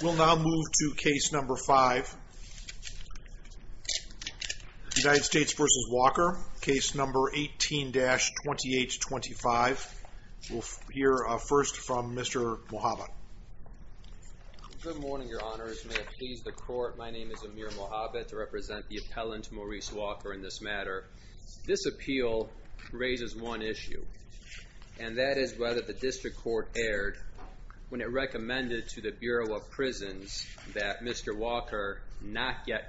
We'll now move to Case No. 5, United States v. Walker, Case No. 18-2825. We'll hear first from Mr. Mojave. Good morning, Your Honors. May it please the Court, my name is Amir Mojave to represent the appellant, Maurice Walker, in this matter. This appeal raises one issue, and that is whether the District Court erred when it recommended to the Bureau of Prisons that Mr. Walker not get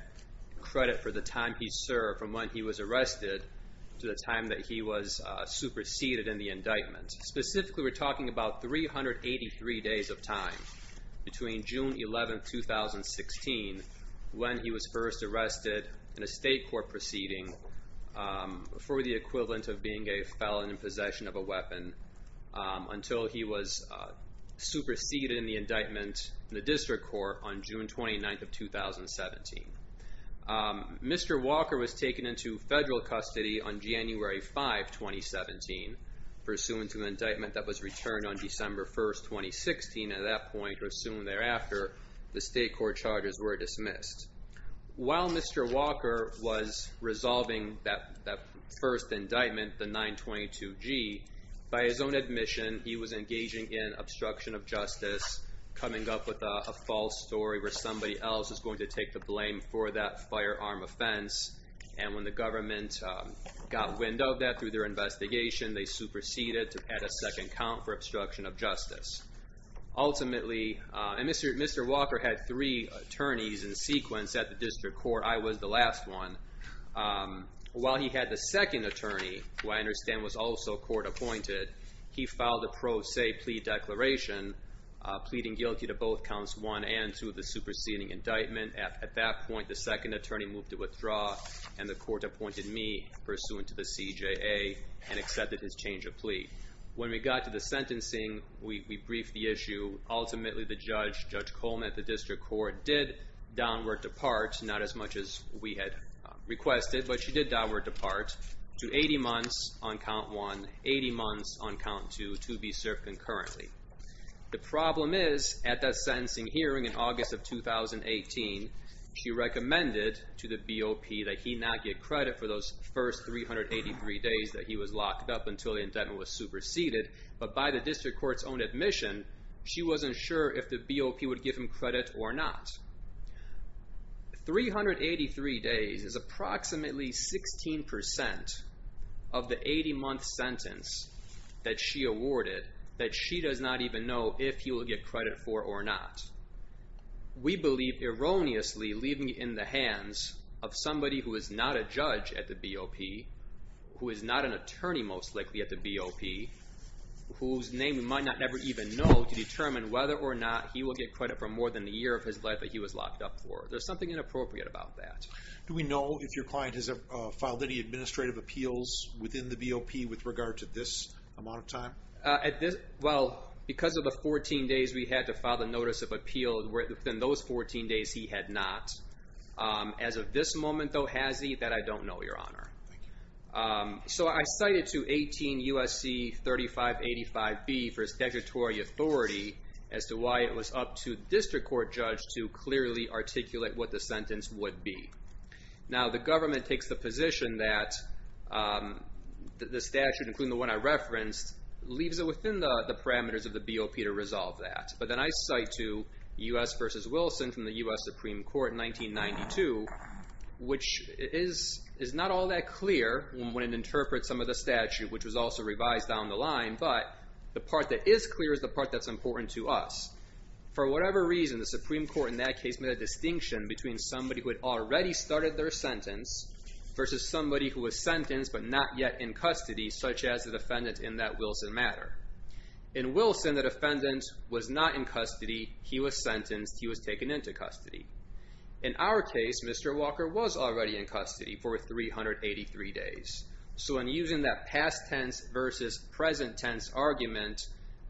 credit for the time he served from when he was arrested to the time that he was superseded in the indictment. Specifically, we're talking about 383 days of time between June 11, 2016, when he was first arrested in a State Court proceeding for the equivalent of being a felon in possession of a weapon, until he was superseded in the indictment in the District Court on June 29, 2017. Mr. Walker was taken into federal custody on January 5, 2017, pursuant to an indictment that was returned on December 1, 2016, and at that point, or soon thereafter, the State Court charges were dismissed. While Mr. Walker was resolving that first indictment, the 922-G, by his own admission, he was engaging in obstruction of justice, coming up with a false story where somebody else is going to take the blame for that firearm offense, and when the government got wind of that through their investigation, they superseded to add a second count for obstruction of justice. Ultimately, Mr. Walker had three attorneys in sequence at the District Court. I was the last one. While he had the second attorney, who I understand was also court appointed, he filed a pro se plea declaration, pleading guilty to both counts one and two of the superseding indictment. At that point, the second attorney moved to withdraw, and the court appointed me, pursuant to the CJA, and accepted his change of plea. When we got to the sentencing, we briefed the issue. Ultimately, the judge, Judge Coleman at the District Court, did downward depart, not as much as we had requested, but she did downward depart to 80 months on count one, 80 months on count two, to be served concurrently. The problem is, at that sentencing hearing in August of 2018, she recommended to the BOP that he not get credit for those first 383 days that he was locked up until the indictment was superseded, but by the District Court's own admission, she wasn't sure if the BOP would give him credit or not. 383 days is approximately 16% of the 80-month sentence that she awarded that she does not even know if he will get credit for or not. We believe, erroneously, leaving it in the hands of somebody who is not a judge at the BOP, who is not an attorney, most likely, at the BOP, whose name we might not never even know, to determine whether or not he will get credit for more than a year of his life that he was locked up for. There's something inappropriate about that. Do we know if your client has filed any administrative appeals within the BOP with regard to this amount of time? Well, because of the 14 days we had to file the notice of appeal, within those 14 days, he had not. As of this moment, though, has he? That I don't know, Your Honor. So I cited to 18 U.S.C. 3585B for his statutory authority as to why it was up to the District Court judge to clearly articulate what the sentence would be. Now, the government takes the position that the statute, including the one I referenced, leaves it within the parameters of the BOP to resolve that. But then I cite to U.S. v. Wilson from the U.S. Supreme Court in 1992, which is not all that clear when it interprets some of the statute, which was also revised down the line, but the part that is clear is the part that's important to us. For whatever reason, the Supreme Court in that case made a distinction between somebody who had already started their sentence versus somebody who was sentenced but not yet in custody, such as the defendant in that Wilson matter. In Wilson, the defendant was not in custody. He was sentenced. He was taken into custody. In our case, Mr. Walker was already in custody for 383 days. So in using that past tense versus present tense argument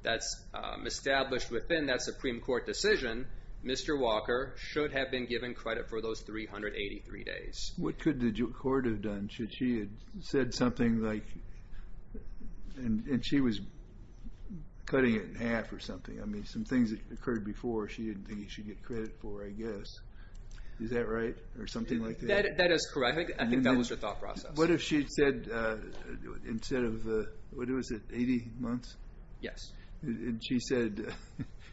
that's established within that Supreme Court decision, Mr. Walker should have been given credit for those 383 days. What could the court have done? Should she have said something like, and she was cutting it in half or something. I mean, some things that occurred before she didn't think he should get credit for, I guess. Is that right? Or something like that? That is correct. I think that was her thought process. What if she said instead of, what was it, 80 months? Yes. And she said,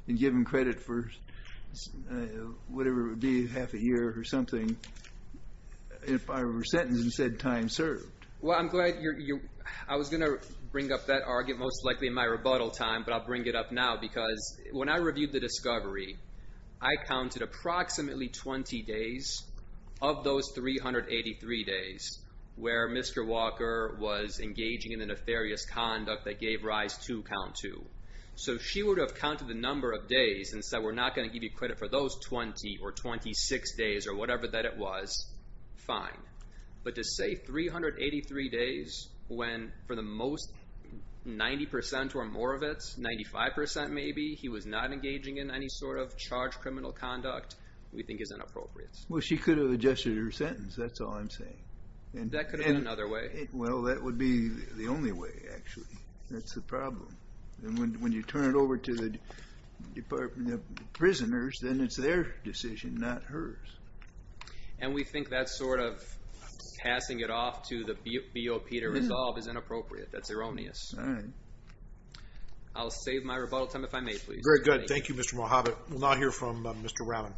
and give him credit for whatever it would be, half a year or something, if I were sentenced and said time served. Well, I'm glad you're, I was going to bring up that argument most likely in my rebuttal time, but I'll bring it up now because when I reviewed the discovery, I counted approximately 20 days of those 383 days where Mr. Walker was engaging in a nefarious conduct that gave rise to count two. So she would have counted the number of days and said, we're not going to give you credit for those 20 or 26 days or whatever that it was. Fine. But to say 383 days when for the most, 90% or more of it, 95% maybe, he was not engaging in any sort of charged criminal conduct, we think is inappropriate. Well, she could have adjusted her sentence. That's all I'm saying. That could have been another way. Well, that would be the only way, actually. That's the problem. And when you turn it over to the Department of Prisoners, then it's their decision, not hers. And we think that sort of passing it off to the BOP to resolve is inappropriate. That's erroneous. All right. I'll save my rebuttal time if I may, please. Very good. Thank you, Mr. Mohabit. We'll now hear from Mr. Raman.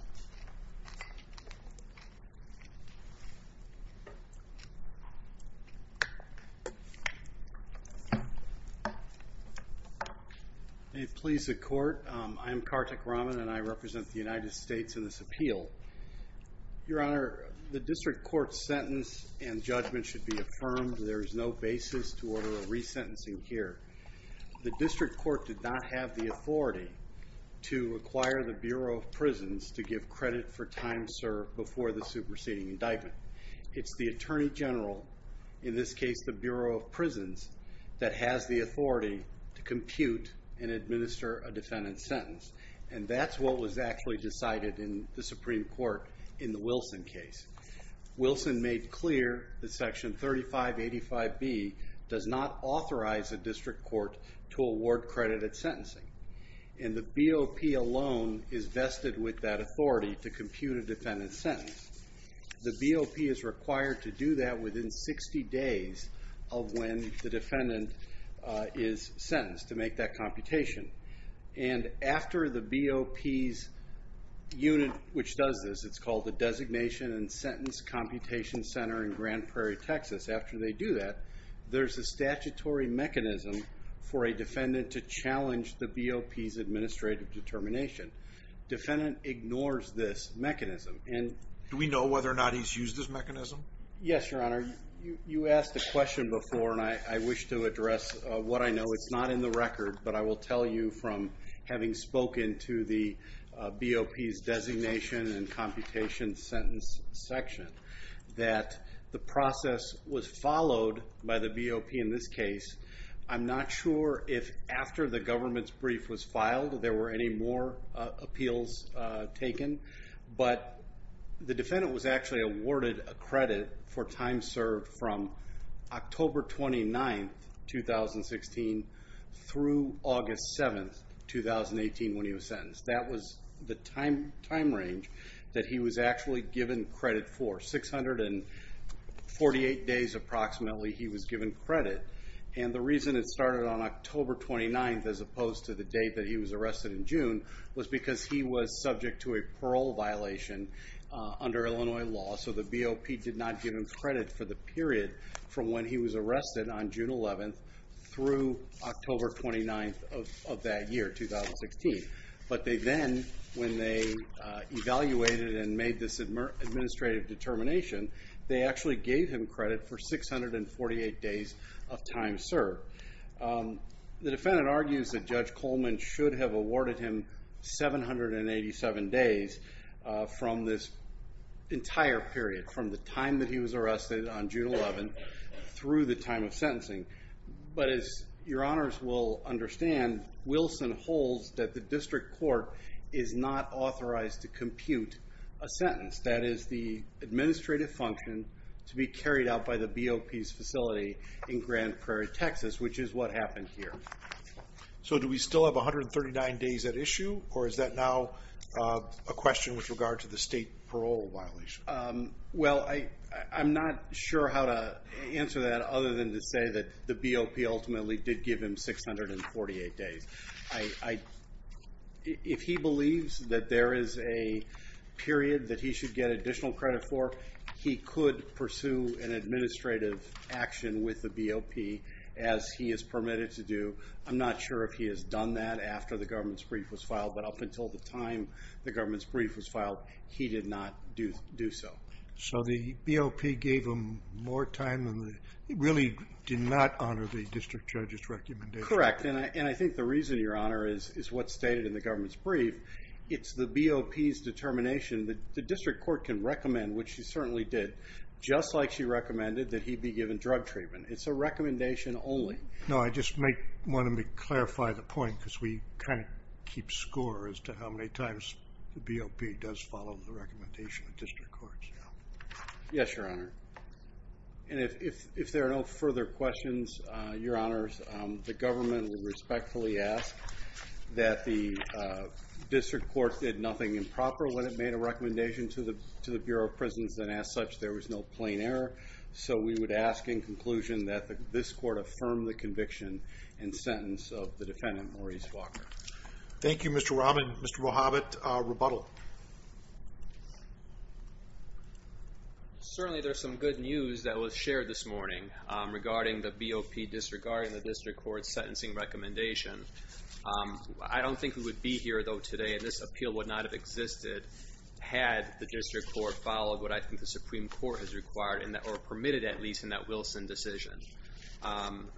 May it please the Court, I am Kartik Raman, and I represent the United States in this appeal. Your Honor, the district court's sentence and judgment should be affirmed. There is no basis to order a resentencing here. The district court did not have the authority to acquire the Bureau of Prisons to give credit for time served before the superseding indictment. It's the Attorney General, in this case the Bureau of Prisons, that has the authority to compute and administer a defendant's sentence. And that's what was actually decided in the Supreme Court in the Wilson case. Wilson made clear that Section 3585B does not authorize a district court to award credit at sentencing. And the BOP alone is vested with that authority to compute a defendant's sentence. The BOP is required to do that within 60 days of when the defendant is sentenced to make that computation. And after the BOP's unit, which does this, it's called the Designation and Sentence Computation Center in Grand Prairie, Texas. After they do that, there's a statutory mechanism for a defendant to challenge the BOP's administrative determination. Defendant ignores this mechanism. Do we know whether or not he's used this mechanism? Yes, Your Honor. You asked a question before, and I wish to address what I know. It's not in the record, but I will tell you from having spoken to the BOP's Designation and Computation Sentence section that the process was followed by the BOP in this case. I'm not sure if after the government's brief was filed, there were any more appeals taken. But the defendant was actually awarded credit for time served from October 29, 2016, through August 7, 2018, when he was sentenced. That was the time range that he was actually given credit for. 648 days, approximately, he was given credit. And the reason it started on October 29, as opposed to the date that he was arrested in June, was because he was subject to a parole violation under Illinois law. So the BOP did not give him credit for the period from when he was arrested on June 11 through October 29 of that year, 2016. But they then, when they evaluated and made this administrative determination, they actually gave him credit for 648 days of time served. The defendant argues that Judge Coleman should have awarded him 787 days from this entire period, from the time that he was arrested on June 11 through the time of sentencing. But as your honors will understand, Wilson holds that the district court is not authorized to compute a sentence. That is the administrative function to be carried out by the BOP's facility in Grand Prairie, Texas, which is what happened here. So do we still have 139 days at issue, or is that now a question with regard to the state parole violation? Well, I'm not sure how to answer that other than to say that the BOP ultimately did give him 648 days. If he believes that there is a period that he should get additional credit for, he could pursue an administrative action with the BOP as he is permitted to do. I'm not sure if he has done that after the government's brief was filed, but up until the time the government's brief was filed, he did not do so. So the BOP gave him more time than the, really did not honor the district judge's recommendation. Correct, and I think the reason, your honor, is what's stated in the government's brief. It's the BOP's determination that the district court can recommend, which he certainly did, just like she recommended that he be given drug treatment. It's a recommendation only. No, I just want to clarify the point because we kind of keep score as to how many times the BOP does follow the recommendation of district courts. Yes, your honor. And if there are no further questions, your honors, the government will respectfully ask that the district court did nothing improper when it made a recommendation to the Bureau of Prisons and as such there was no plain error. So we would ask in conclusion that this court affirm the conviction and sentence of the defendant, Maurice Walker. Thank you, Mr. Rahman. Mr. Wahabit, rebuttal. Well, certainly there's some good news that was shared this morning regarding the BOP disregarding the district court's sentencing recommendation. I don't think we would be here, though, today and this appeal would not have existed had the district court followed what I think the Supreme Court has required or permitted at least in that Wilson decision.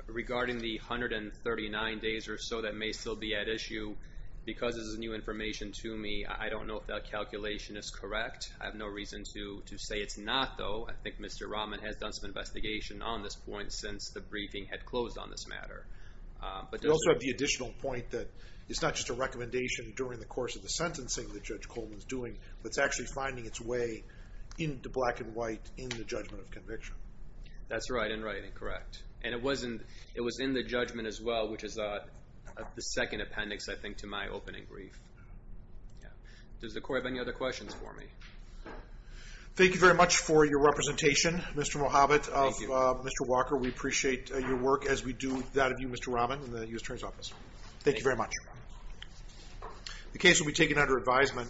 Regarding the 139 days or so that may still be at issue, because this is new information to me, I don't know if that calculation is correct. I have no reason to say it's not, though. I think Mr. Rahman has done some investigation on this point since the briefing had closed on this matter. We also have the additional point that it's not just a recommendation during the course of the sentencing that Judge Coleman is doing, but it's actually finding its way into black and white in the judgment of conviction. That's right and right and correct. And it was in the judgment as well, which is the second appendix, I think, to my opening brief. Does the court have any other questions for me? Thank you very much for your representation, Mr. Wahabit, of Mr. Walker. We appreciate your work as we do that of you, Mr. Rahman, in the U.S. Attorney's Office. Thank you very much. The case will be taken under advisement.